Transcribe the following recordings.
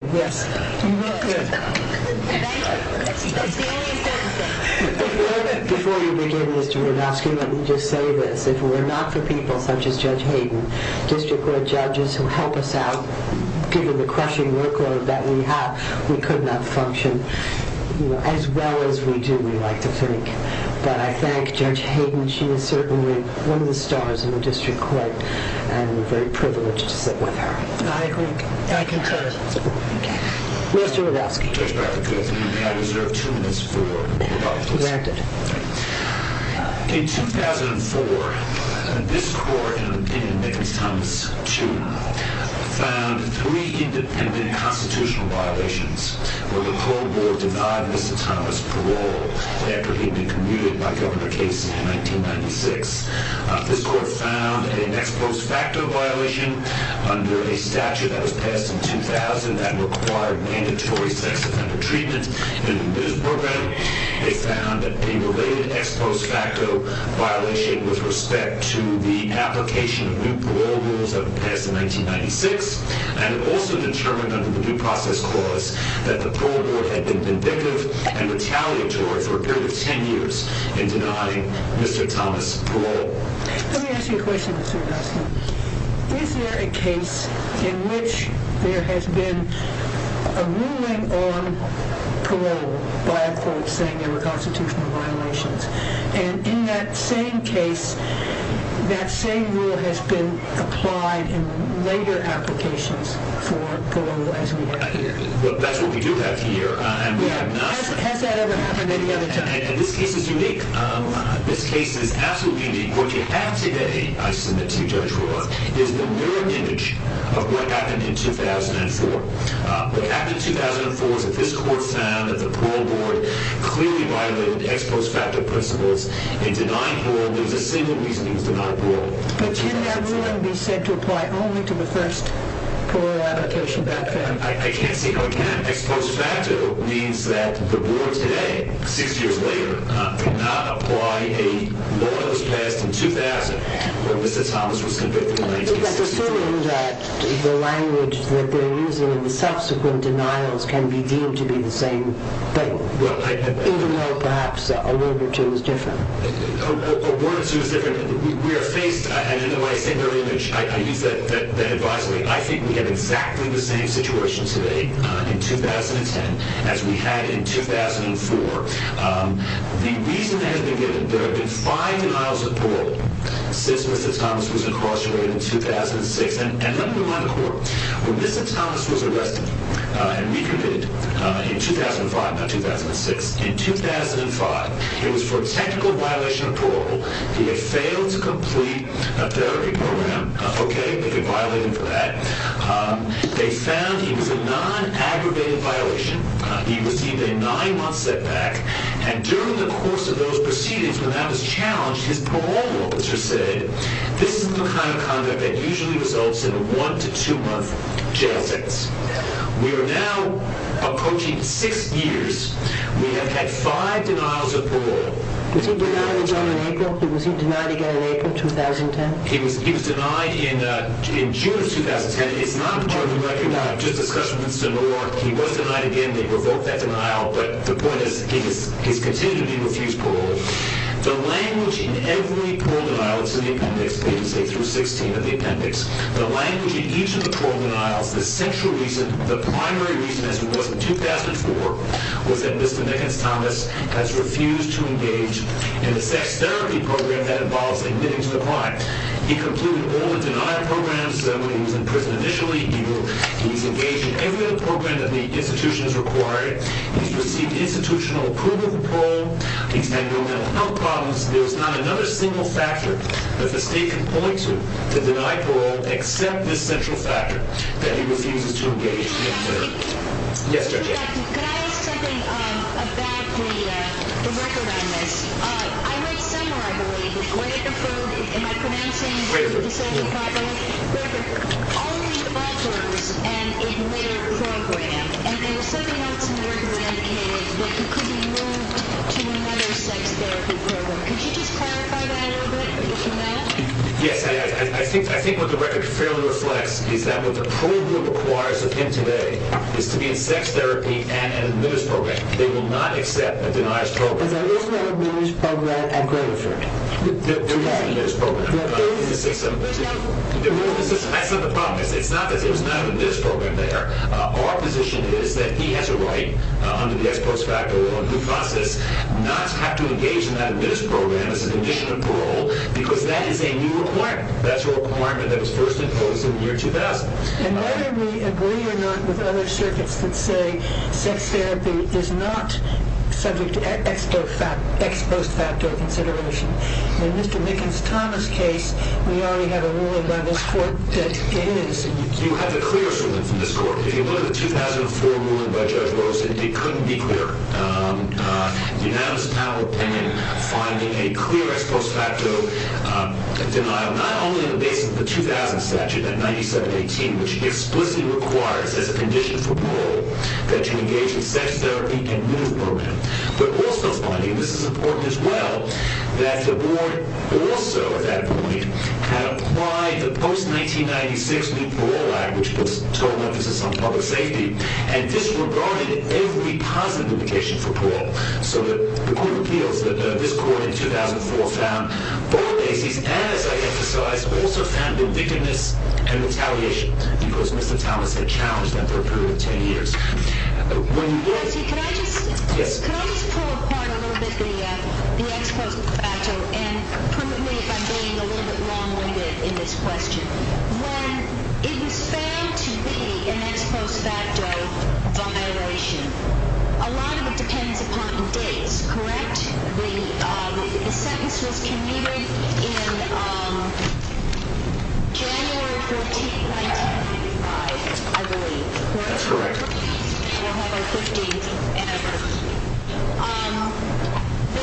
Before you begin, Mr. Rodofsky, let me just say this. If it were not for people such as Judge Hayden, District Court judges who help us out, given the crushing workload that we have, we could not function as well as we do, we like to think. But I thank Judge Hayden. She is certainly one of the stars in the District Court, and we're very privileged to sit with her. I agree. I concur. Mr. Rodofsky. Judge Backer, good afternoon. May I reserve two minutes for rebuttals? Granted. In 2004, this Court, in an opinion of Micken-Thomas II, found three independent constitutional violations where the whole Board denied Mr. Thomas parole after he'd been commuted by Governor Casey in 1996. This Court found an ex post facto violation under a statute that was passed in 2000 that required mandatory sex offender treatment. In this program, it found a related ex post facto violation with respect to the application of new parole rules that were passed in 1996, and it also determined under the due process clause that the parole board had been vindictive and retaliatory for a period of 10 years in denying Mr. Thomas parole. Let me ask you a question, Mr. Rodofsky. Is there a case in which there has been a ruling on parole by a court saying there were constitutional violations, and in that same case, that same rule has been applied in later applications for parole as we have here? That's what we do have here. Has that ever happened any other time? This case is unique. This case is absolutely unique. What you have today, I submit to you, Judge Brewer, is the mirrored image of what happened in 2004. What happened in 2004 is that this Court found that the parole board clearly violated ex post facto principles in denying parole. There was a single reason he was denied parole. But can that ruling be said to apply only to the first parole application background? I can't say how it can. Ex post facto means that the board today, six years later, did not apply a law that was passed in 2000 when Mr. Thomas was convicted in 1963. That's assuming that the language that they're using and the subsequent denials can be deemed to be the same thing, even though perhaps a word or two is different. We are faced, and in my singular image, I use that advisory, I think we have exactly the same situation today in 2010 as we had in 2004. The reason that has been given, there have been five denials of parole since Mr. Thomas was incarcerated in 2006. And let me remind the Court, when Mr. Thomas was arrested and recommitted in 2005, not 2006, in 2005, it was for a technical violation of parole. He had failed to complete a therapy program. Okay, they could violate him for that. They found he was a non-aggravated violation. He received a nine-month setback. And during the course of those proceedings, when that was challenged, his parole officer said, this is the kind of conduct that usually results in a one- to two-month jail sentence. We are now approaching six years. We have had five denials of parole. Was he denied again in April 2010? He was denied in June of 2010. It's not part of the record. I just discussed it with Mr. Moore. He was denied again. They revoked that denial. But the point is, he has continued to be refused parole. The language in every parole denial is in the appendix, pages 8 through 16 of the appendix. The language in each of the parole denials, the central reason, the primary reason, as it was in 2004, was that Mr. Nickens Thomas has refused to engage in the sex therapy program that involves admitting to the crime. He completed all the denial programs. He was in prison initially. He's engaged in every other program that the institution has required. He's received institutional approval for parole. He's had no mental health problems. There's not another single factor that the state can point to to deny parole except this central factor, that he refuses to engage in therapy. Yes, Judge Adams. Thank you, Doctor. Can I ask something about the record on this? I read somewhere, I believe, that Gregor, am I pronouncing his name properly? Gregor. Gregor. All of these developers and a later program. And there was something else in the record that indicated that he could be moved to another sex therapy program. Could you just clarify that a little bit? Yes, I think what the record fairly reflects is that what the parole group requires of him today is to be in sex therapy and an admittance program. They will not accept a denial program. There is no admittance program at Gregor for me. There is an admittance program. There is not. That's not the problem. It's not that there's not an admittance program there. Our position is that he has a right, under the ex post facto law and due process, not to have to engage in that admittance program as a condition of parole because that is a new requirement. That's a requirement that was first imposed in the year 2000. And whether we agree or not with other circuits that say sex therapy is not subject to ex post facto consideration, in Mr. Mickens-Thomas' case, we already have a ruling by this court that it is. You have the clearest ruling from this court. If you look at the 2004 ruling by Judge Rose, it couldn't be clearer. Unanimous panel opinion finding a clear ex post facto denial, not only in the basis of the 2000 statute at 9718, which explicitly requires as a condition for parole that you engage in sex therapy and an admittance program, but also finding, and this is important as well, that the board also at that point had applied the post 1996 new parole act, which puts total emphasis on public safety, and disregarded every positive indication for parole. So the court of appeals that this court in 2004 found, both cases, as I emphasized, also found the victimness and retaliation because Mr. Thomas had challenged them for a period of 10 years. Can I just pull apart a little bit the ex post facto and prove me if I'm being a little bit wrong in this question. When it was found to be an ex post facto violation, a lot of it depends upon the dates, correct? The sentence was commuted in January 14, 1995, I believe. That's correct.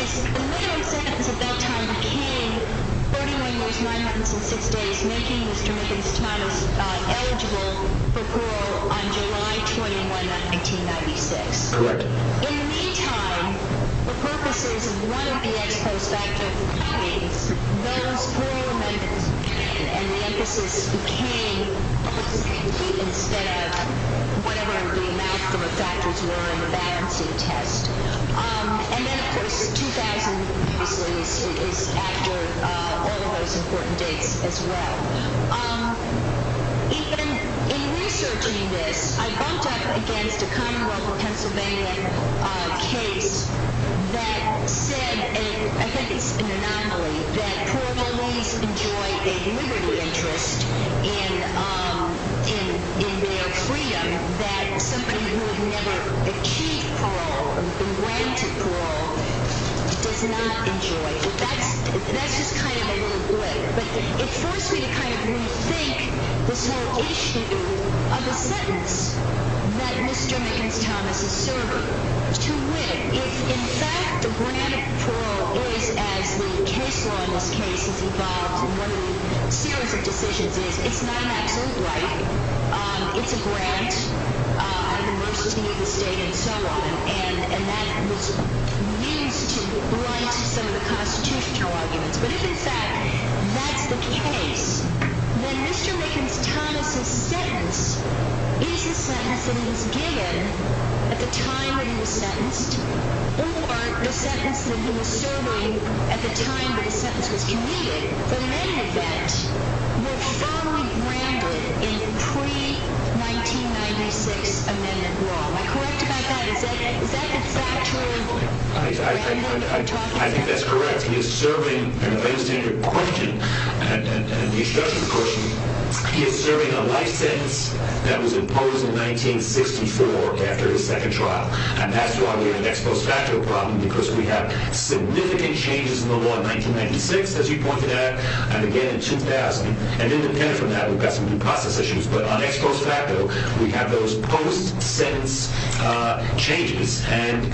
The minimum sentence at that time became 41 years, 906 days, making Mr. Thomas eligible for parole on July 21, 1996. Correct. In the meantime, the purposes of one of the ex post facto findings, those parole amendments and the emphasis became instead of whatever the maximum factors were in the balancing test. And then, of course, 2000 is after all of those important dates as well. Even in researching this, I bumped up against a Commonwealth of Pennsylvania case that said, that parolees enjoy a liberty interest in their freedom that somebody who had never achieved parole or been granted parole does not enjoy. That's just kind of a little glitter. But it forced me to kind of rethink this whole issue of a sentence that Mr. Mickens-Thomas is serving to win. In fact, the grant of parole is, as the case law in this case is involved in one of the series of decisions, is it's not an absolute right. It's a grant of the mercy of the state and so on. And that was used to blight some of the constitutional arguments. But if in fact that's the case, then Mr. Mickens-Thomas' sentence is a sentence that he was given at the time that he was sentenced, or the sentence that he was serving at the time that the sentence was committed, then many of that were thoroughly grounded in the pre-1996 amendment law. Am I correct about that? Is that true? I think that's correct. He is serving a very standard question, a new structure question. He is serving a life sentence that was imposed in 1964 after his second trial. And that's why we have an ex post facto problem because we have significant changes in the law in 1996, as you pointed out, and again in 2000, and independent from that we've got some new process issues. But on ex post facto, we have those post-sentence changes. And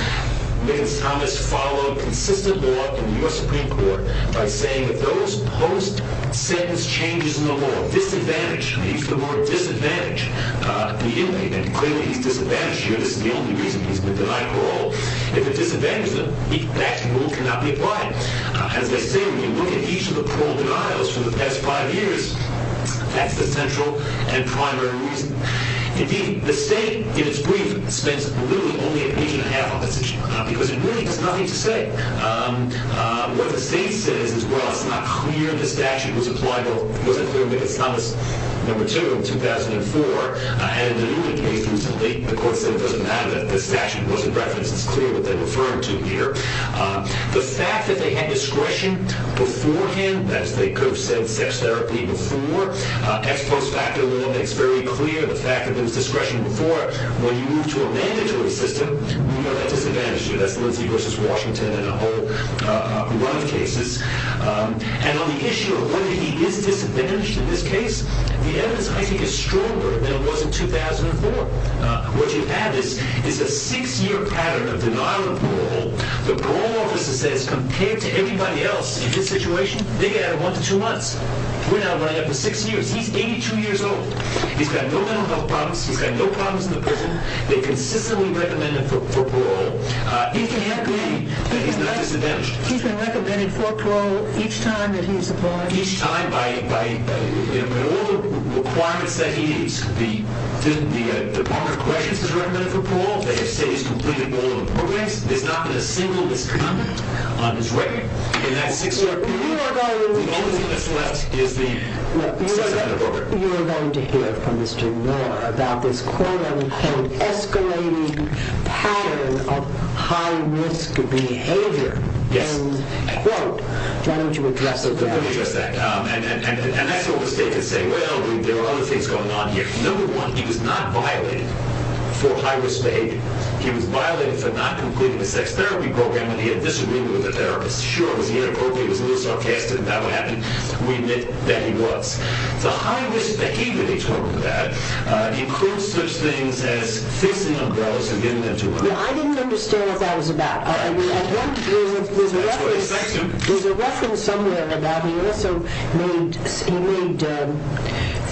Mickens-Thomas followed consistent law in the U.S. Supreme Court by saying that those post-sentence changes in the law disadvantage the inmate. And clearly he's disadvantaged here. This is the only reason he's been denied parole. If it disadvantages him, that rule cannot be applied. As I say, when you look at each of the parole denials for the past five years, that's the central and primary reason. Indeed, the state, in its brief, spends literally only an inch and a half on this issue because it really has nothing to say. What the state says is, well, it's not clear the statute was applied. It wasn't clear Mickens-Thomas No. 2 in 2004. And in the new case, the court said it doesn't matter that the statute wasn't referenced. It's clear what they're referring to here. The fact that they had discretion beforehand, that is, they could have said sex therapy before, ex post facto law makes very clear the fact that there was discretion before. When you move to a mandatory system, you are disadvantaged here. That's Lindsay v. Washington and a whole run of cases. And on the issue of whether he is disadvantaged in this case, the evidence, I think, is stronger than it was in 2004. What you have is a six-year pattern of denial of parole. The parole officer says, compared to everybody else in this situation, they got one to two months. We're now running up to six years. He's 82 years old. He's got no mental health problems. He's got no problems in the prison. They consistently recommend him for parole. He can't be that he's not disadvantaged. He's been recommended for parole each time that he's applied? Each time by all the requirements that he needs. The Department of Corrections has recommended for parole. They have said he's completely below the programs. There's not been a single misconduct on his record in that six-year period. The only thing that's left is the sex-therapy program. You're going to hear from Mr. Miller about this, quote, an escalating pattern of high-risk behavior. Yes. And, quote, why don't you address that? Let me address that. And that's what was taken. Say, well, there are other things going on here. Number one, he was not violated for high-risk behavior. He was violated for not completing the sex-therapy program and he had a disagreement with the therapist. Sure, was he inappropriate? Was he a little sarcastic about what happened? We admit that he was. The high-risk behavior he talked about includes such things as fixing umbrellas and getting them to work. I didn't understand what that was about. There's a reference somewhere about he also made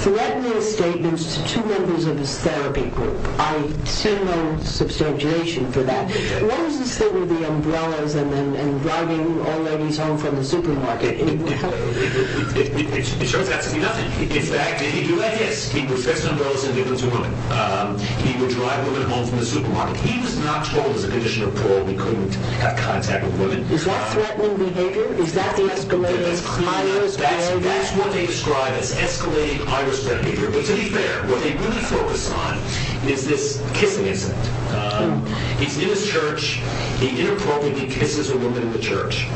threatening statements to two members of his therapy group. I see no substantiation for that. What was his thing with the umbrellas and driving all ladies home from the supermarket? It shows absolutely nothing. In fact, he did do that, yes. He professed umbrellas and they went to work. He would drive women home from the supermarket. He was not told as a condition of parole he couldn't have contact with women. Is that threatening behavior? Is that the escalating high-risk behavior? That's what they describe as escalating high-risk behavior. But to be fair, what they really focus on is this kissing incident. He's in his church. He inappropriately kisses a woman in the church.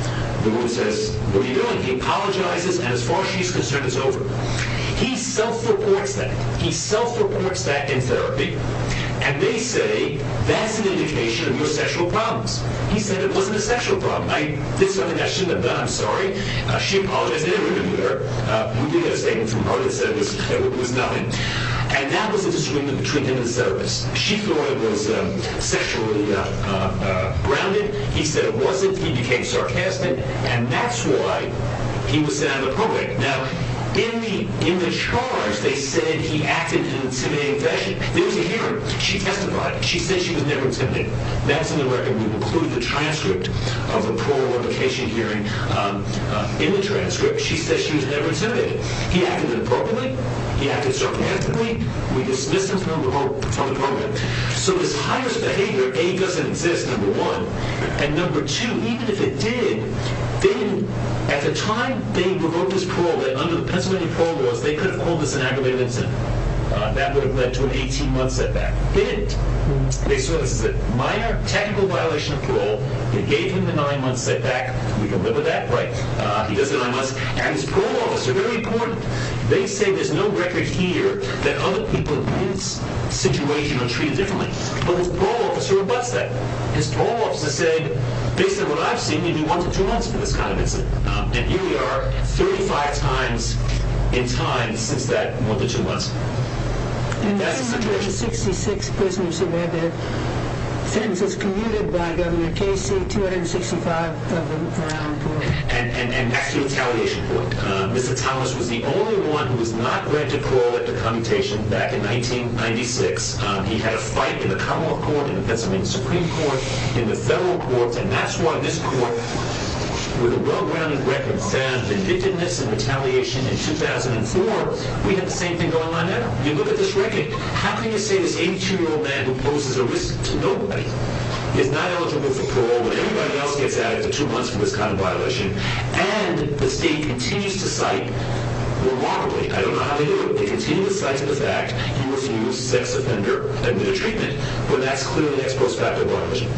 The woman says, what are you doing? He apologizes, and as far as she's concerned, it's over. He self-reports that. He self-reports that in therapy, and they say that's an indication of your sexual problems. He said it wasn't a sexual problem. I did something I shouldn't have done, I'm sorry. She apologized. They interviewed her. We did get a statement from her that said it was nothing. And that was a disagreement between him and the therapist. She thought it was sexually grounded. He said it wasn't. He became sarcastic, and that's why he was sent out of the program. Now, in the charge, they said he acted in an intimidating fashion. There was a hearing. She testified. She said she was never intimidating. That's in the record. We include the transcript of the parole replication hearing in the transcript. She said she was never intimidating. He acted inappropriately. He acted sarcastically. We dismissed him from the program. So his high-risk behavior, A, doesn't exist, number one. And, number two, even if it did, at the time they revoked his parole, under the Pennsylvania parole laws, they could have called this an aggravated incident. That would have led to an 18-month setback. It didn't. They saw this as a minor technical violation of parole. They gave him the nine-month setback. We can live with that. He does have nine months. And his parole officer, very important, they say there's no record here that other people in this situation are treated differently. But his parole officer rebutts that. His parole officer said, based on what I've seen, you do one to two months for this kind of incident. And here we are, 35 times in time since that one to two months. And that's the situation. In the 266 prisoners who were there, sentences commuted by Governor Casey, 265 of them around four. And that's the retaliation point. Mr. Thomas was the only one who was not granted parole after commutation back in 1996. He had a fight in the Commonwealth Court, in the Pennsylvania Supreme Court, in the federal courts. And that's why this court, with a well-grounded record, found vindictiveness and retaliation in 2004. We have the same thing going on now. You look at this record. How can you say this 82-year-old man who poses a risk to nobody is not eligible for parole when everybody else gets added for two months for this kind of violation? And the state continues to cite, remarkably, I don't know how they do it, but they continue to cite the fact he was used, sex offender, under treatment. But that's clearly an ex post facto violation. Mr. Dustman, please look at the volume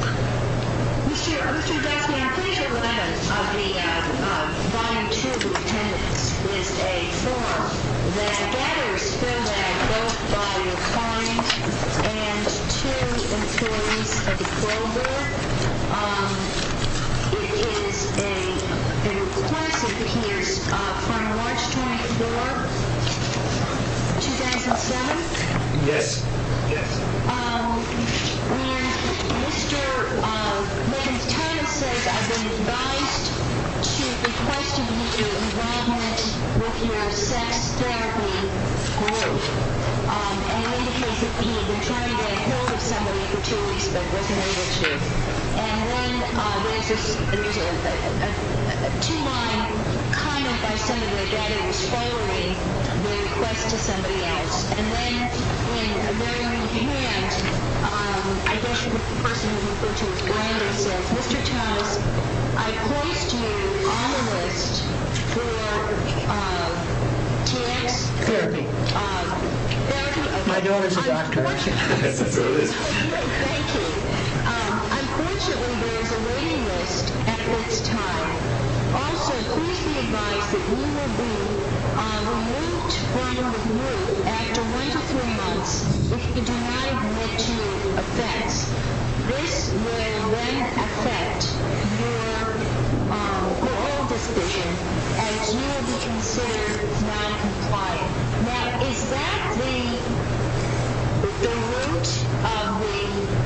two of the attendance list, A4, that gathers for that both by a client and two employees of the parole board. It is a request that appears from March 24, 2007. Yes. Yes. And Mr. Lincoln Thomas says, I've been advised to request to meet your involvement with your sex therapy group. And it indicates that he had been trying to get a hold of somebody for two weeks but wasn't able to. And then there's a two-line comment by Senator Gaddy that's following the request to somebody else. And then in the very right-hand, I guess the person who referred to it, Miranda says, Mr. Thomas, I poised you on the list for TX therapy. Therapy. My daughter's a doctor. That's what it is. Thank you. Unfortunately, there is a waiting list at this time. Also, please be advised that we will be on a remote line with you after one to three months if you do not admit to your offense. This will then affect your parole decision as you will be considered noncompliant. Now, is that the root of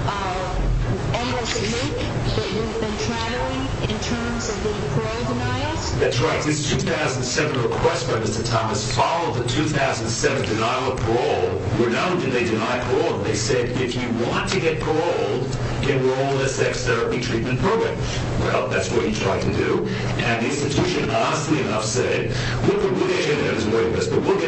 the endless loop that we've been traveling in terms of the parole denials? That's right. This 2007 request by Mr. Thomas followed the 2007 denial of parole. We're not only did they deny parole, they said if you want to get paroled, enroll in a sex therapy treatment program. Well, that's what he tried to do. And the institution, honestly enough, said, we'll get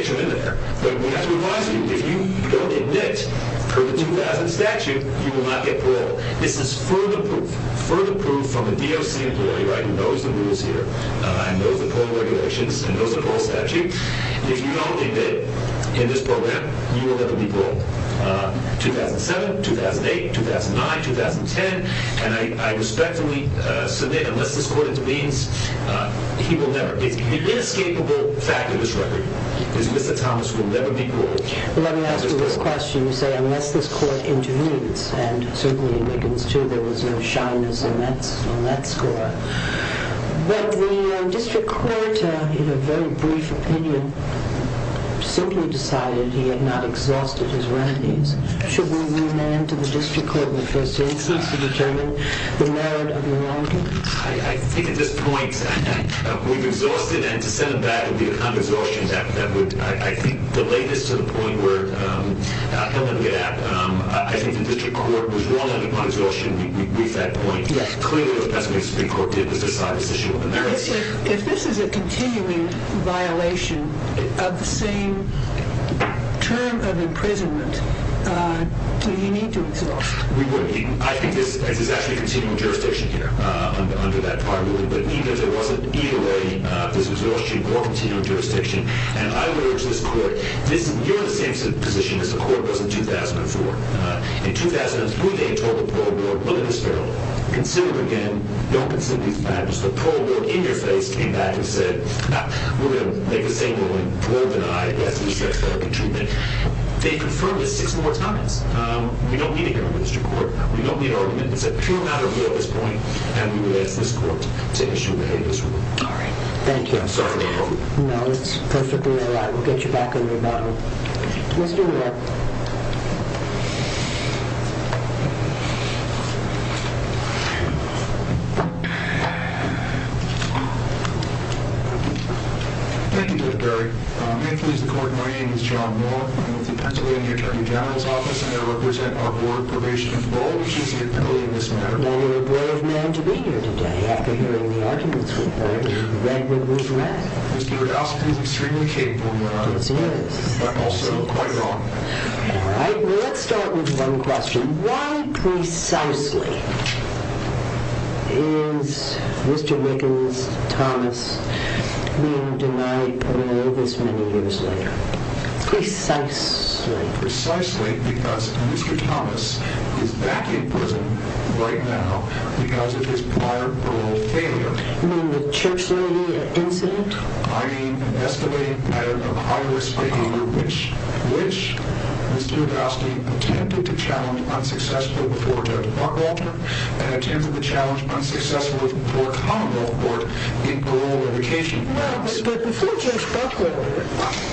you in there. But we have to advise you, if you don't admit per the 2000 statute, you will not get paroled. This is further proof from a DOC employee who knows the rules here and knows the parole regulations and knows the parole statute. If you don't admit in this program, you will never be paroled. 2007, 2008, 2009, 2010. And I respectfully submit, unless this court intervenes, he will never. The inescapable fact of this record is Mr. Thomas will never be paroled. Well, let me ask you this question. You say unless this court intervenes, and certainly in Wiggins too, there was no shyness in that score. But the district court, in a very brief opinion, simply decided he had not exhausted his remedies. Should we remand to the district court in the first instance to determine the merit of the wrongdoing? I think at this point, we've exhausted. And to send them back would be a kind of exhaustion that would, I think, delay this to the point where, I don't want to get apt. I think the district court was wrong on exhaustion with that point. Clearly, what the Supreme Court did was decide this issue on the merits. If this is a continuing violation of the same term of imprisonment, do you need to exhaust? We would. I think this is actually continuing jurisdiction here under that part of the ruling. But even if it wasn't, either way, this was an exhaustion or continuing jurisdiction. And I would urge this court, you're in the same position as the court was in 2004. In 2004, they had told the parole board, we're going to disparal you. Consider it again. Don't consider these matters. The parole board, in your face, came back and said, we're going to make the same ruling. We won't deny it. It has to be sex-related treatment. They confirmed this six more times. We don't need a hearing in the district court. We don't need an argument. It's a pure matter of law at this point. And we would ask this court to take issue with this ruling. All right. Thank you. I'm sorry to hurt you. No, it's perfectly all right. We'll get you back on your battle. Mr. Moore. Thank you, Judge Berry. May it please the court, my name is John Moore. I'm with the Pennsylvania Attorney General's Office, and I represent our Board of Probation and Parole, which is compelling this matter. Well, you're a brave man to be here today, after hearing the arguments we've heard. You've read what we've read. Mr. Radoski was extremely capable in that argument. Yes, he was. But also quite wrong. All right. Well, let's start with one question. Why precisely is Mr. Rickens, Thomas, being denied parole this many years later? Precisely. Precisely because Mr. Thomas is back in prison right now because of his prior parole failure. You mean the church lady incident? I mean investigating a matter of high-risk behavior, which Mr. Radoski attempted to challenge unsuccessfully before Judge Buckwalter, and attempted to challenge unsuccessfully before Commonwealth Court in parole litigation. But before Judge Buckwalter,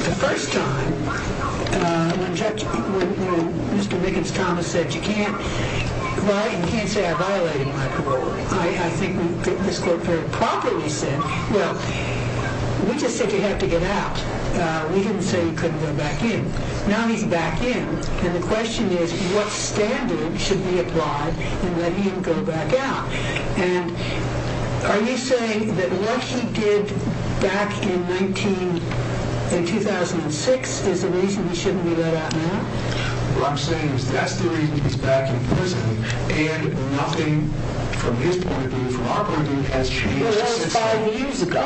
the first time when Mr. Rickens, Thomas, said, you can't say I violated my parole. I think this quote very properly said, well, we just said you have to get out. We didn't say you couldn't go back in. Now he's back in, and the question is what standard should be applied in letting him go back out? And are you saying that what he did back in 2006 is the reason he shouldn't be let out now? What I'm saying is that's the reason he's back in prison, and nothing from his point of view, from our point of view, has changed since then. Well, that was five years ago.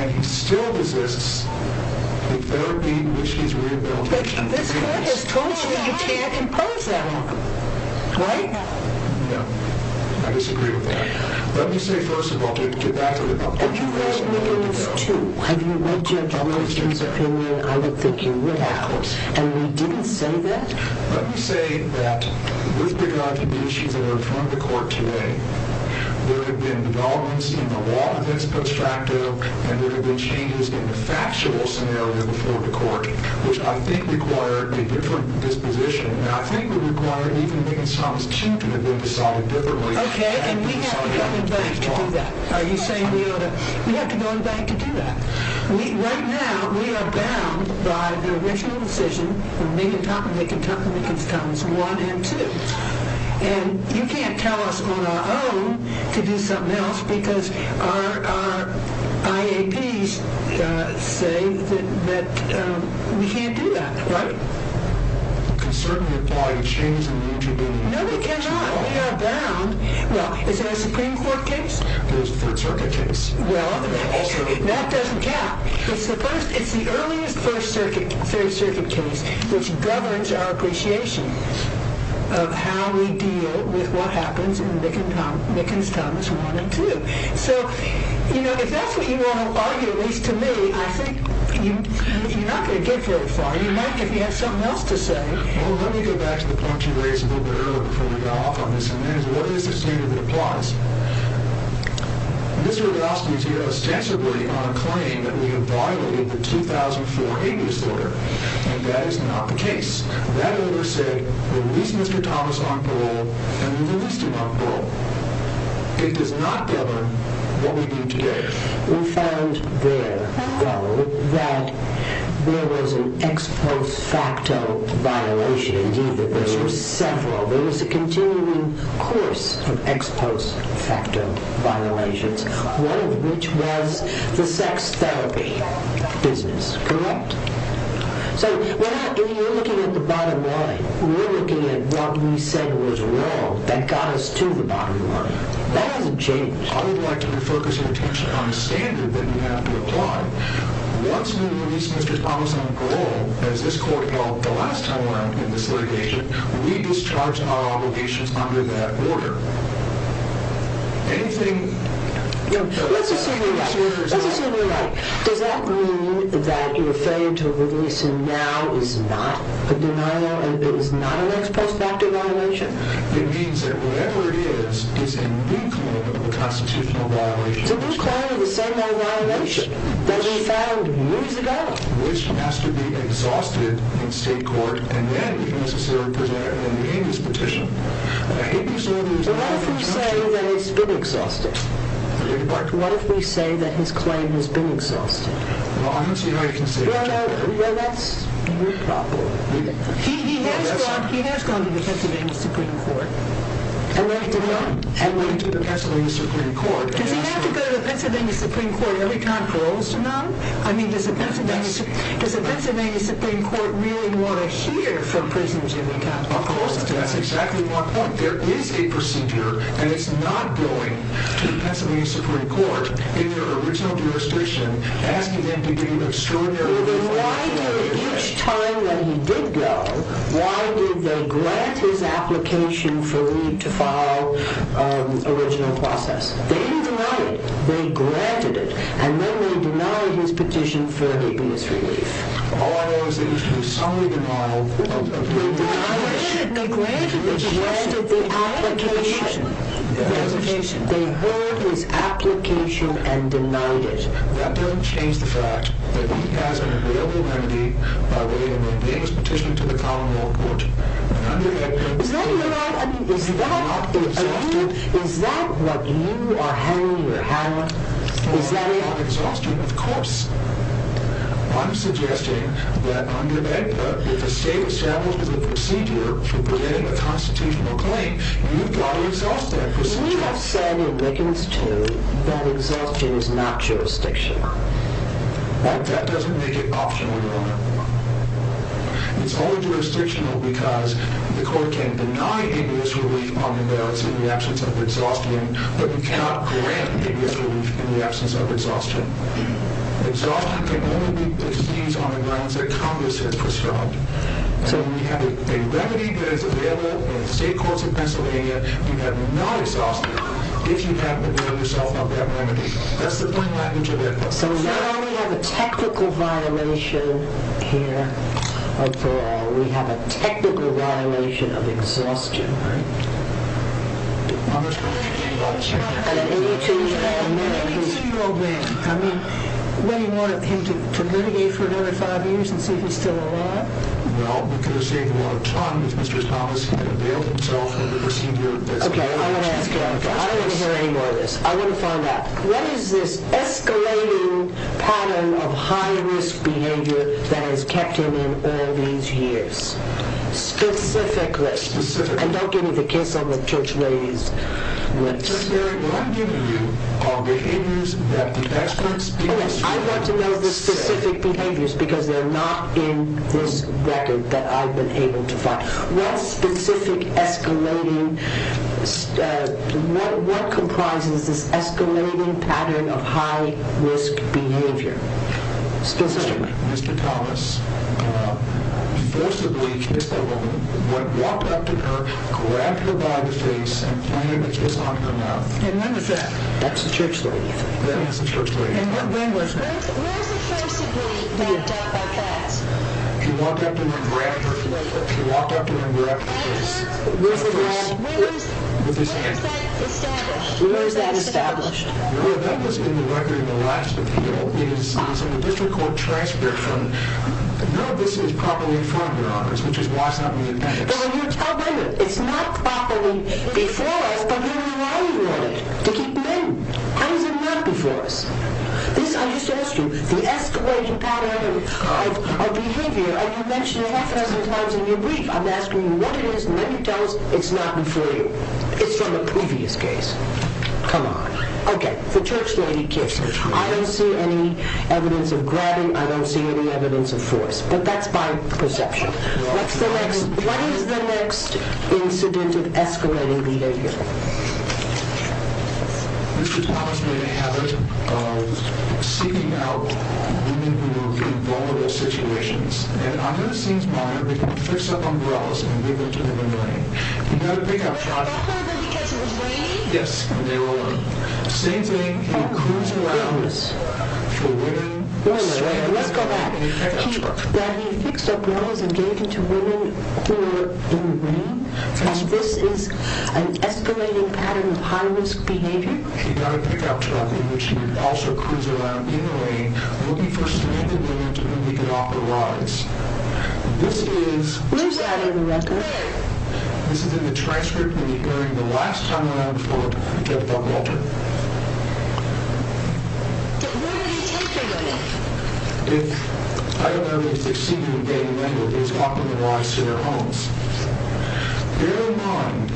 And he still resists the therapy in which he's rehabilitated. But this court has told you you can't impose that on him, right? No. No. I disagree with that. Let me say, first of all, to get back to the point you raised earlier. Have you read Rickens, too? Have you read Judge Buckwalter's opinion? I would think you would have. And we didn't say that? Let me say that with regard to the issues that are in front of the court today, there have been developments in the law that's constructive, and there have been changes in the factual scenario before the court, which I think required a different disposition. I think it required even Minkins-Thomas, too, to have been decided differently. Okay, and we have to go back to do that. Are you saying we ought to? We have to go back to do that. Right now we are bound by the original decision from Minkins-Thomas 1 and 2. And you can't tell us on our own to do something else because our IAPs say that we can't do that, right? We can certainly apply a change in eligibility. No, we cannot. We are bound. Well, is there a Supreme Court case? There's a Third Circuit case. Well, that doesn't count. It's the earliest Third Circuit case, which governs our appreciation of how we deal with what happens in Minkins-Thomas 1 and 2. So, you know, if that's what you want to argue, at least to me, I think you're not going to get very far. And you might if you had something else to say. Well, let me go back to the point you raised a little bit earlier before we got off on this. And that is, what is the standard that applies? Mr. Hrabowski is here ostensibly on a claim that we have violated the 2004 Abuse Order. And that is not the case. That order said, release Mr. Thomas on parole, and we released him on parole. It does not govern what we do today. We found there, though, that there was an ex post facto violation. Indeed, there were several. There was a continuing course of ex post facto violations, one of which was the sex therapy business. Correct? So, if you're looking at the bottom line, we're looking at what we said was wrong that got us to the bottom line. That hasn't changed. I would like to refocus your attention on the standard that we have to apply. Once we release Mr. Thomas on parole, as this court held the last time around in this litigation, we discharge our obligations under that order. Anything... Let's assume you're right. Let's assume you're right. Does that mean that your failure to release him now is not a denial, and it is not an ex post facto violation? It means that whatever it is is a new claim of a constitutional violation. It's a new claim of the same old violation that we found years ago. Which has to be exhausted in state court, and then necessarily presented in the Amos petition. But what if we say that it's been exhausted? What if we say that his claim has been exhausted? Well, I don't see how you can say that. Well, that's... He has gone to the Pennsylvania Supreme Court. And went to the Pennsylvania Supreme Court. Does he have to go to the Pennsylvania Supreme Court every time for Olson? No. I mean, does the Pennsylvania Supreme Court really want to hear from prisoners every time? Of course. That's exactly my point. There is a procedure, and it's not going to the Pennsylvania Supreme Court, in their original jurisdiction, asking them to do extraordinary... And why did, each time that he did go, why did they grant his application for Lee to file original process? They didn't deny it. They granted it. And then they denied his petition for the abuse relief. All of those issues. Some of them are... They granted it. They granted the petition. They granted the application. The application. They heard his application and denied it. That doesn't change the fact that he has an agreeable remedy by waiving Lee's petition to the Commonwealth Court. And under that... Is that what you are... I mean, is that... Is that what you are hanging your hat on? Is that it? Of course. I'm suggesting that under that, if a state established a procedure for preventing a constitutional claim, you've got to exhaust that procedure. But you have said in Lickens 2 that exhaustion is not jurisdictional. That doesn't make it optional, Your Honor. It's only jurisdictional because the court can deny abuse relief on the merits in the absence of exhaustion, but you cannot grant abuse relief in the absence of exhaustion. Exhaustion can only be placed on the grounds that Congress has prescribed. You have not exhausted it if you haven't availed yourself of that remedy. That's the plain language of it. So now we have a technical violation here of the law. We have a technical violation of exhaustion. Right. And an 82-year-old man. I mean, what, do you want him to litigate for another five years and see if he's still alive? Well, we could have saved a lot of time if Mr. Thomas had availed himself of the procedure. Okay, I want to ask you. I don't want to hear any more of this. I want to find out. What is this escalating pattern of high-risk behavior that has kept him in all these years? Specifically. And don't give me the kiss on the church lady's lips. What I'm giving you are behaviors that the experts... I want to know the specific behaviors because they're not in this record that I've been able to find. What specific escalating, what comprises this escalating pattern of high-risk behavior? Specifically. Mr. Thomas forcibly kissed a woman, walked up to her, grabbed her by the face, and planted this on her mouth. And when was that? That's the church lady. That is the church lady. And when was that? Where is it forcibly done like that? He walked up to her and grabbed her face. He walked up to her and grabbed her face. And where is that established? Where is that established? That was in the record in the last appeal. It is in the district court transcript from... None of this is properly in front of your office, which is why it's not in the appendix. But when you tell women it's not properly before us, but we're relying on it to keep men. How is it not before us? This, I just asked you, the escalating pattern of behavior, and you mentioned it half a dozen times in your brief. I'm asking you what it is, and then you tell us it's not before you. It's from a previous case. Come on. Okay. The church lady kissed me. I don't see any evidence of grabbing. I don't see any evidence of force. But that's by perception. What is the next incident of escalating behavior? Mr. Thomas made a habit of seeking out women who were in vulnerable situations. And under the scenes monitor, he could fix up umbrellas and give them to them in the rain. He had a pickup truck. That's when he kissed me? Yes, when they were alone. The same thing, he cruise around for women. Wait a minute. Let's go back. He fixed up umbrellas and gave them to women who were in the rain? And this is an escalating pattern of high-risk behavior? He got a pickup truck, in which he would also cruise around in the rain, looking for stranded women to whom he could offer rides. This is... Where's that in the record? This is in the transcript when he, during the last time around before, he kept on walking. Where did he take the women? I don't know if he succeeded in getting them to offer the rides to their homes. Bear in mind,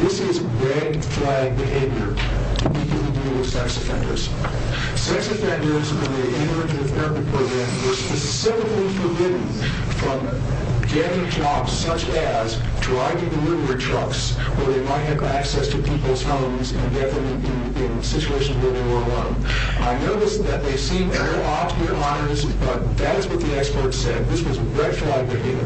this is red flag behavior. We can't do this to sex offenders. Sex offenders in the Interagent Therapy Program were specifically forbidden from getting jobs such as driving delivery trucks where they might have access to people's homes and get them in situations where they were alone. I notice that they seem very odd to your honors, but that is what the expert said. This was red flag behavior.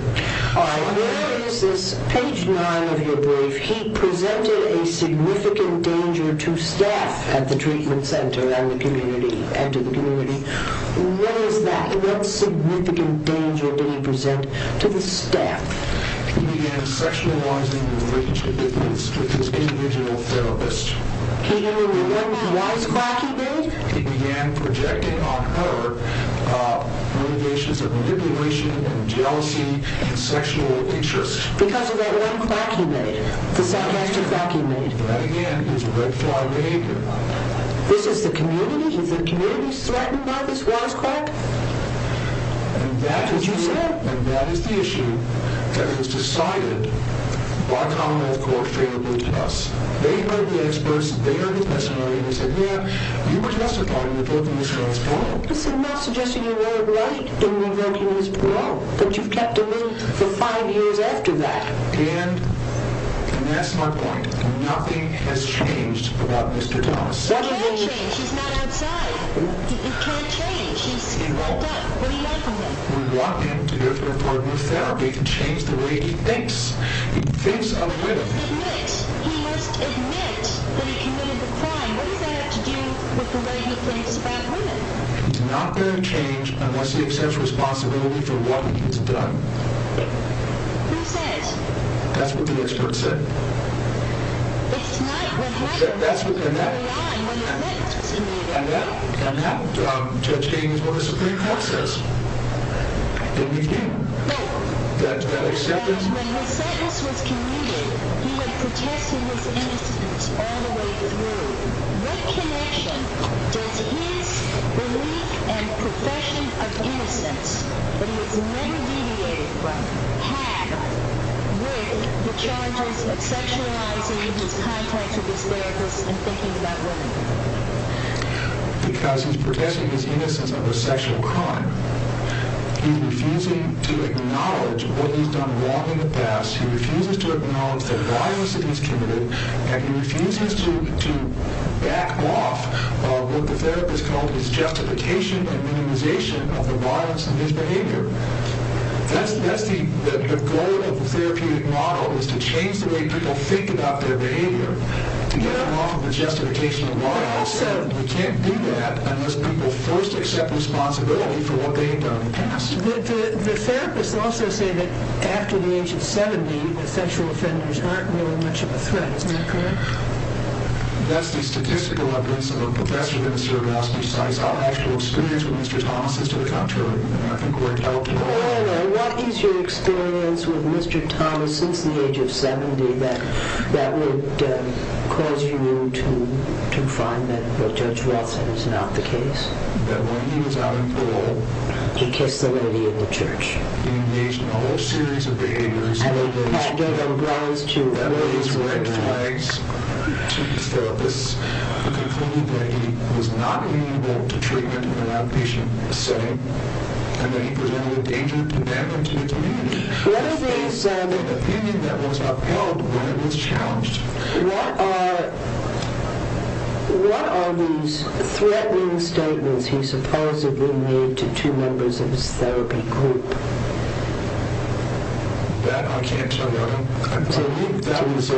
All right. Where is this? Page 9 of your brief. He presented a significant danger to staff at the treatment center and to the community. What is that? And what significant danger did he present to the staff? He began sexualizing the women's commitments with his individual therapist. He only did one wisecrack, he did? He began projecting on her motivations of manipulation and jealousy and sexual interest. Because of that one quack he made, the sarcastic quack he made? That, again, is red flag behavior. This is the community? Is the community threatened by this wisecrack? And that is the issue that was decided by Commonwealth Courts favorably to us. They heard the experts, they heard the testimony, and they said, yeah, you were justified in reverting this girl's parole. I'm not suggesting you were right in reverting his parole, but you kept him in for five years after that. And that's my point. Nothing has changed about Mr. Thomas. What do you mean? He can't change. He's not outside. He can't change. He's locked up. What do you want from him? We want him to go to a partner of therapy to change the way he thinks. He thinks of women. He must admit that he committed the crime. What does that have to do with the way he thinks about women? He's not going to change unless he accepts responsibility for what he has done. Who says? That's what the experts said. It's not what happened. That's what happened. That's not the line when the sentence was commuted. And that changed what the Supreme Court says. Didn't we do? No. Does that accept it? When his sentence was commuted, he had protested his innocence all the way through. What connection does his belief and profession of innocence, that he was never deviated from, have with the charges of sexualizing in his context of his therapist and thinking about women? Because he's protesting his innocence of a sexual crime, he's refusing to acknowledge what he's done wrong in the past, he refuses to acknowledge the violence that he's committed, and he refuses to back off of what the therapist called his justification and minimization of the violence in his behavior. That's the goal of the therapeutic model, is to change the way people think about their behavior to get them off of the justification of violence. We can't do that unless people first accept responsibility for what they've done in the past. But the therapists also say that after the age of 70, that sexual offenders aren't really much of a threat. Isn't that correct? That's the statistical evidence of a professor at the University of Massachusetts. Our actual experience with Mr. Thomas is to the contrary, and I think we're intelligent. What is your experience with Mr. Thomas since the age of 70 that would cause you to find that Judge Watson is not the case? That when he was out in parole, he kissed the lady in the church. He engaged in a whole series of behaviors that raised red flags to the therapists who concluded that he was not amenable to treatment in an outpatient setting and that he presented a danger to them and to the community. What are these threatening statements he supposedly made to two members of his therapy group? That I can't tell you about. I believe that was a...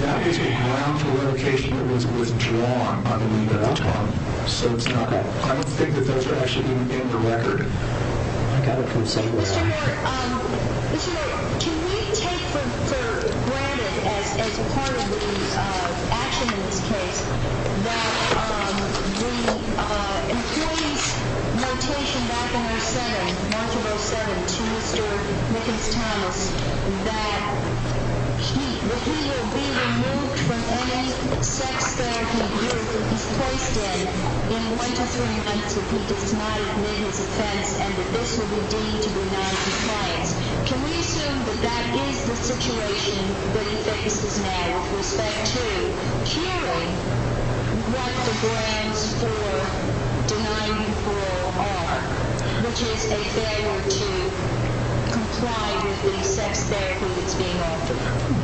That is a ground for revocation that was withdrawn under legal autonomy. So it's not... I don't think that those are actually in the record. I got it from somewhere. Mr. Mort, can we take for granted as part of the action in this case that the employee's notation back in March of 07 to Mr. Nickens Thomas that he will be removed from any sex therapy group he's placed in in one to three months if he does not admit his offense and that this will be deemed to be non-defense. Can we assume that that is the situation that he faces now with respect to curing what the grounds for denying parole are, which is a failure to comply with the sex therapy that's being offered?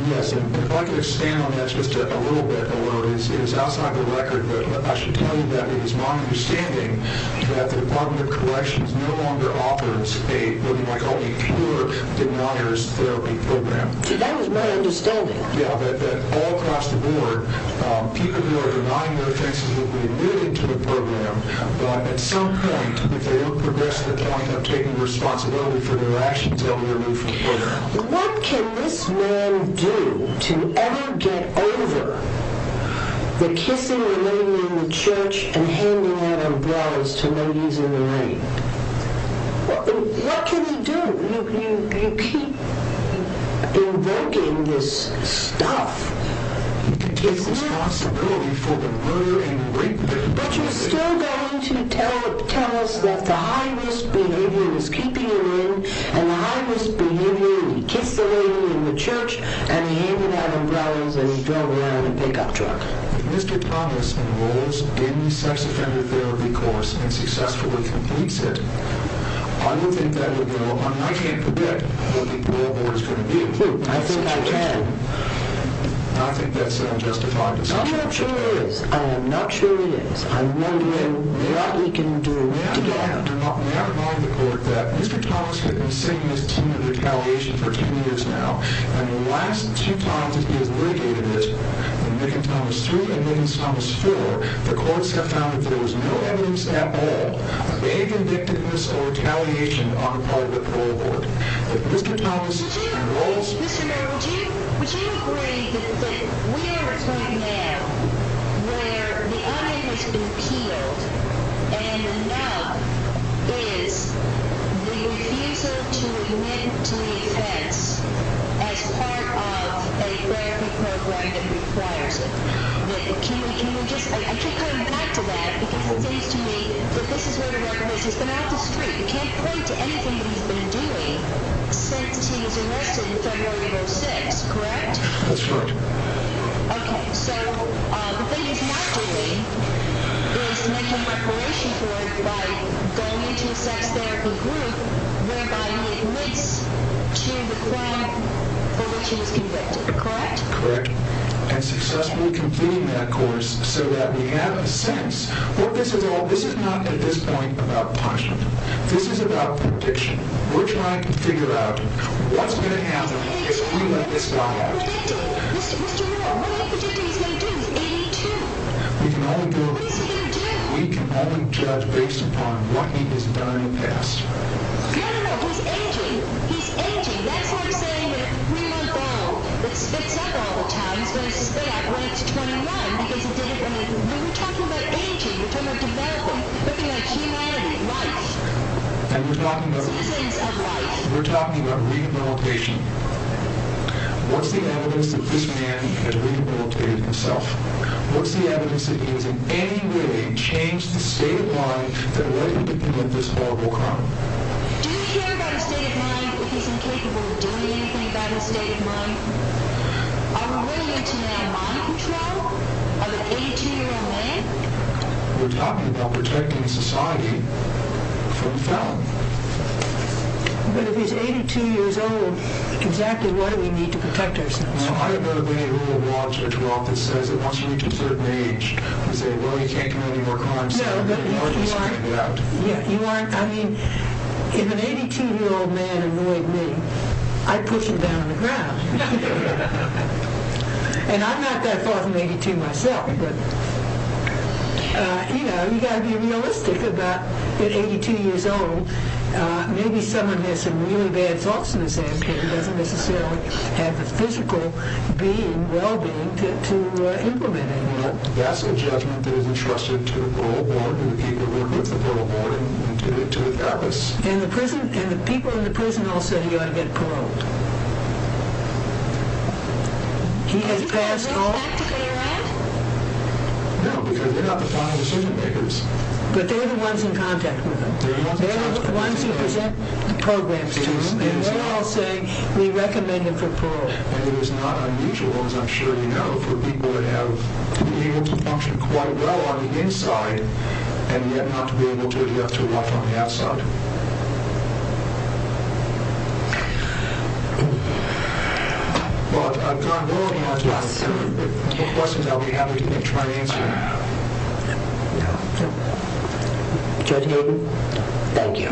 Yes, and if I could expand on that just a little bit, it is outside the record, but I should tell you that it is my understanding that the Department of Corrections no longer offers a looking-like-only-cure-deniers therapy program. See, that was my understanding. Yeah, that all across the board, people who are denying their offenses will be removed into a program, but at some point, if they don't progress to the point of taking responsibility for their actions, they'll be removed from the program. What can this man do to ever get over the kissing and laying in the church and handing out umbrellas to ladies in the rain? What can he do? You keep invoking this stuff, the kiss is possible, but you're still going to tell us that the high-risk behavior is keeping him in and the high-risk behavior, he kissed a lady in the church and he handed out umbrellas and he drove around in a pickup truck. If Mr. Thomas enrolls in the sex offender therapy course and successfully completes it, I don't think that would be a problem. I can't predict what the parole board is going to do. I think I can. I think that's unjustified. I'm not sure it is. I am not sure it is. I'm wondering what he can do to get out. May I remind the court that Mr. Thomas has been singing his tune of retaliation for 10 years now and the last two times that he has litigated it, in Mickin Thomas 3 and Mickin Thomas 4, the courts have found that there was no evidence at all of any convictedness or retaliation on the part of the parole board. If Mr. Thomas enrolls... Mr. Merrill, would you agree that we are in a time now where the eye has been peeled and the nub is the refusal to admit to the offense as part of a therapy program that requires it? Can we just... I keep coming back to that because it seems to me that this is what it represents. He's been out in the street. You can't point to anything that he's been doing since he was enlisted in February of 2006, correct? That's right. Okay, so the thing he's not doing is making reparation for it by going into a sex therapy group whereby he admits to the crime for which he was convicted, correct? Correct, and successfully completing that course so that we have a sense that this is not at this point about punishment. This is about prediction. We're trying to figure out what's going to happen if we let this guy out. Mr. Merrill, what are you predicting he's going to do? He's 82. What is he going to do? We can only judge based upon what he has done in the past. No, no, no. He's aging. He's aging. That's what I'm saying. When a three-month-old spits up all the time, he's going to spit up when he's 21 because he did it when he was little. We're talking about aging. We're talking about developing, looking at humanity, life. And we're talking about rehabilitation. What's the evidence that this man has rehabilitated himself? What's the evidence that he has in any way changed the state of mind that led him to commit this horrible crime? Do you care about his state of mind if he's incapable of doing anything about his state of mind? Are we really into now mind control of an 82-year-old man? We're talking about protecting society from felony. But if he's 82 years old, exactly what do we need to protect ourselves? I have met a lady who will watch a drop that says it wants you to a certain age. I say, well, you can't commit any more crimes. No, but you aren't, I mean, if an 82-year-old man annoyed me, I'd push him down on the ground. And I'm not that far from 82 myself, but, you know, you've got to be realistic about at 82 years old, maybe someone has some really bad thoughts in his head but he doesn't necessarily have the physical being, well-being, to implement anything. Well, that's a judgment that is entrusted to the parole board and the people who work with the parole board and get it to the catalyst. And the people in the prison also, you ought to get paroled. He has passed all... Are you going to bring him back to Bay Area? No, because they're not the final decision-makers. But they're the ones in contact with him. They're the ones who present the programs to him and they all say we recommend him for parole. And it is not unusual, as I'm sure you know, for people to have been able to function quite well on the inside and yet not to be able to adapt to life on the outside. But I've gone on and on to ask more questions. I'll be happy to try and answer them. No? No. Judge Gilbert? Thank you.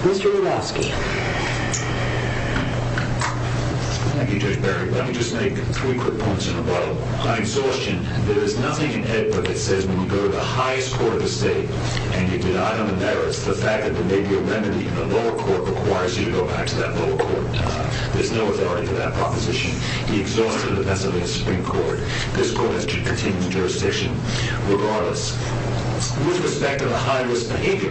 Mr. Lewowski. Thank you, Judge Berry. Let me just make three quick points in a row. By exhaustion, there is nothing in Ed's book that says when you go to the highest court of the state and you deny them the merits, the fact that there may be a remedy in the lower court requires you to go back to that lower court. There's no authority to that proposition. He exhausted it defensively in the Supreme Court. This court has continued jurisdiction regardless. With respect to the high-risk behavior,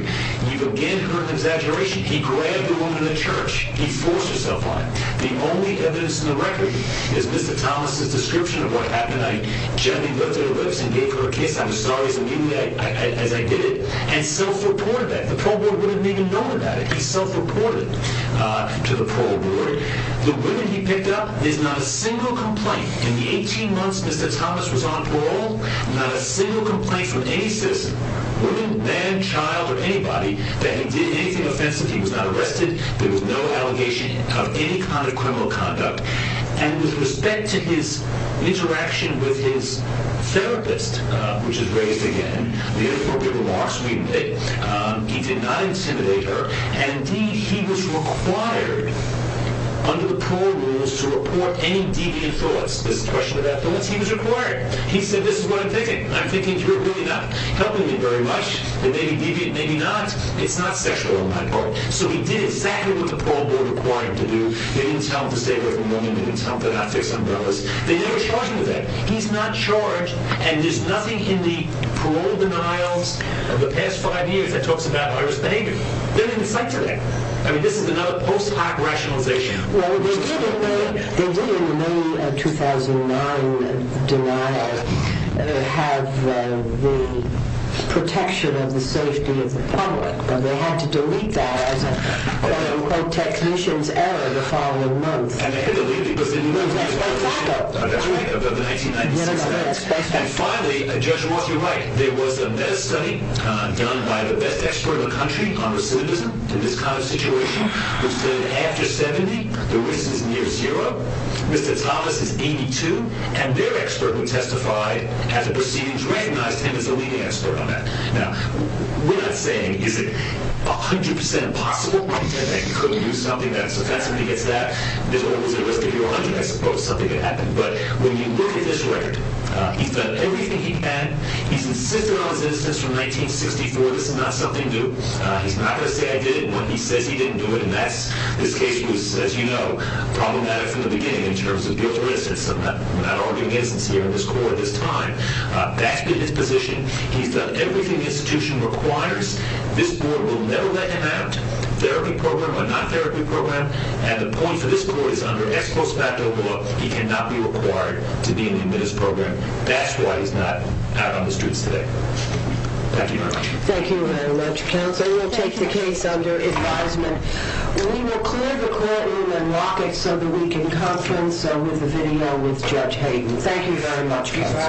you've again heard an exaggeration. He grabbed a woman in the church. He forced herself on her. The only evidence in the record is Mr. Thomas' description of what happened. I gently lifted her lips and gave her a kiss. I'm sorry, as I did it, and self-reported that. The parole board wouldn't have even known about it. He self-reported it to the parole board. The women he picked up, there's not a single complaint. In the 18 months Mr. Thomas was on parole, not a single complaint from any citizen, woman, man, child, or anybody, that he did anything offensive. He was not arrested. There was no allegation of any kind of criminal conduct. And with respect to his interaction with his therapist, which is raised again, the inappropriate remarks we made, he did not intimidate her. And indeed, he was required, under the parole rules, to report any deviant thoughts. This is a question about thoughts. He was required. He said, this is what I'm thinking. I'm thinking you're really not helping me very much. It may be deviant, maybe not. It's not sexual on my part. So he did exactly what the parole board required him to do. They didn't tell him to stay away from women. They didn't tell him to not fix umbrellas. They never charged him with that. He's not charged. And there's nothing in the parole denials of the past five years that talks about iris behavior. They didn't cite to that. I mean, this is another post hoc rationalization. Well, they did in the May 2009 denial have the protection of the safety of the public. But they had to delete that as a quote-unquote technician's error the following month. And they could delete it because they didn't use it. That's right. That's right. That's right. That's right. And finally, Judge Roth, you're right. There was a meta-study done by the best expert in the country on recidivism in this kind of situation, which said after 70, the risk is near zero. Mr. Thomas is 82. And their expert who testified as a proceedings recognized him as a leading expert on that. Now, we're not saying, is it 100% possible that they could do something that's offensive against that? There's almost a risk of your 100, I suppose, something could happen. But when you look at this record, he's done everything he can. He's insisted on his innocence from 1964. This is not something new. He's not going to say, I did it. He says he didn't do it. And that's this case was, as you know, problematic from the beginning in terms of guilt or innocence. I'm not arguing innocence here in this court at this time. That's been his position. He's done everything the institution requires. This board will never let him out, therapy program or not therapy program. And the point for this court is under ex post facto law, he cannot be required to be in the admittance program. That's why he's not out on the streets today. Thank you very much. Thank you very much. Counsel, we'll take the case under advisement. We will clear the court room and lock it so that we can conference with the video with Judge Hayden. Thank you very much.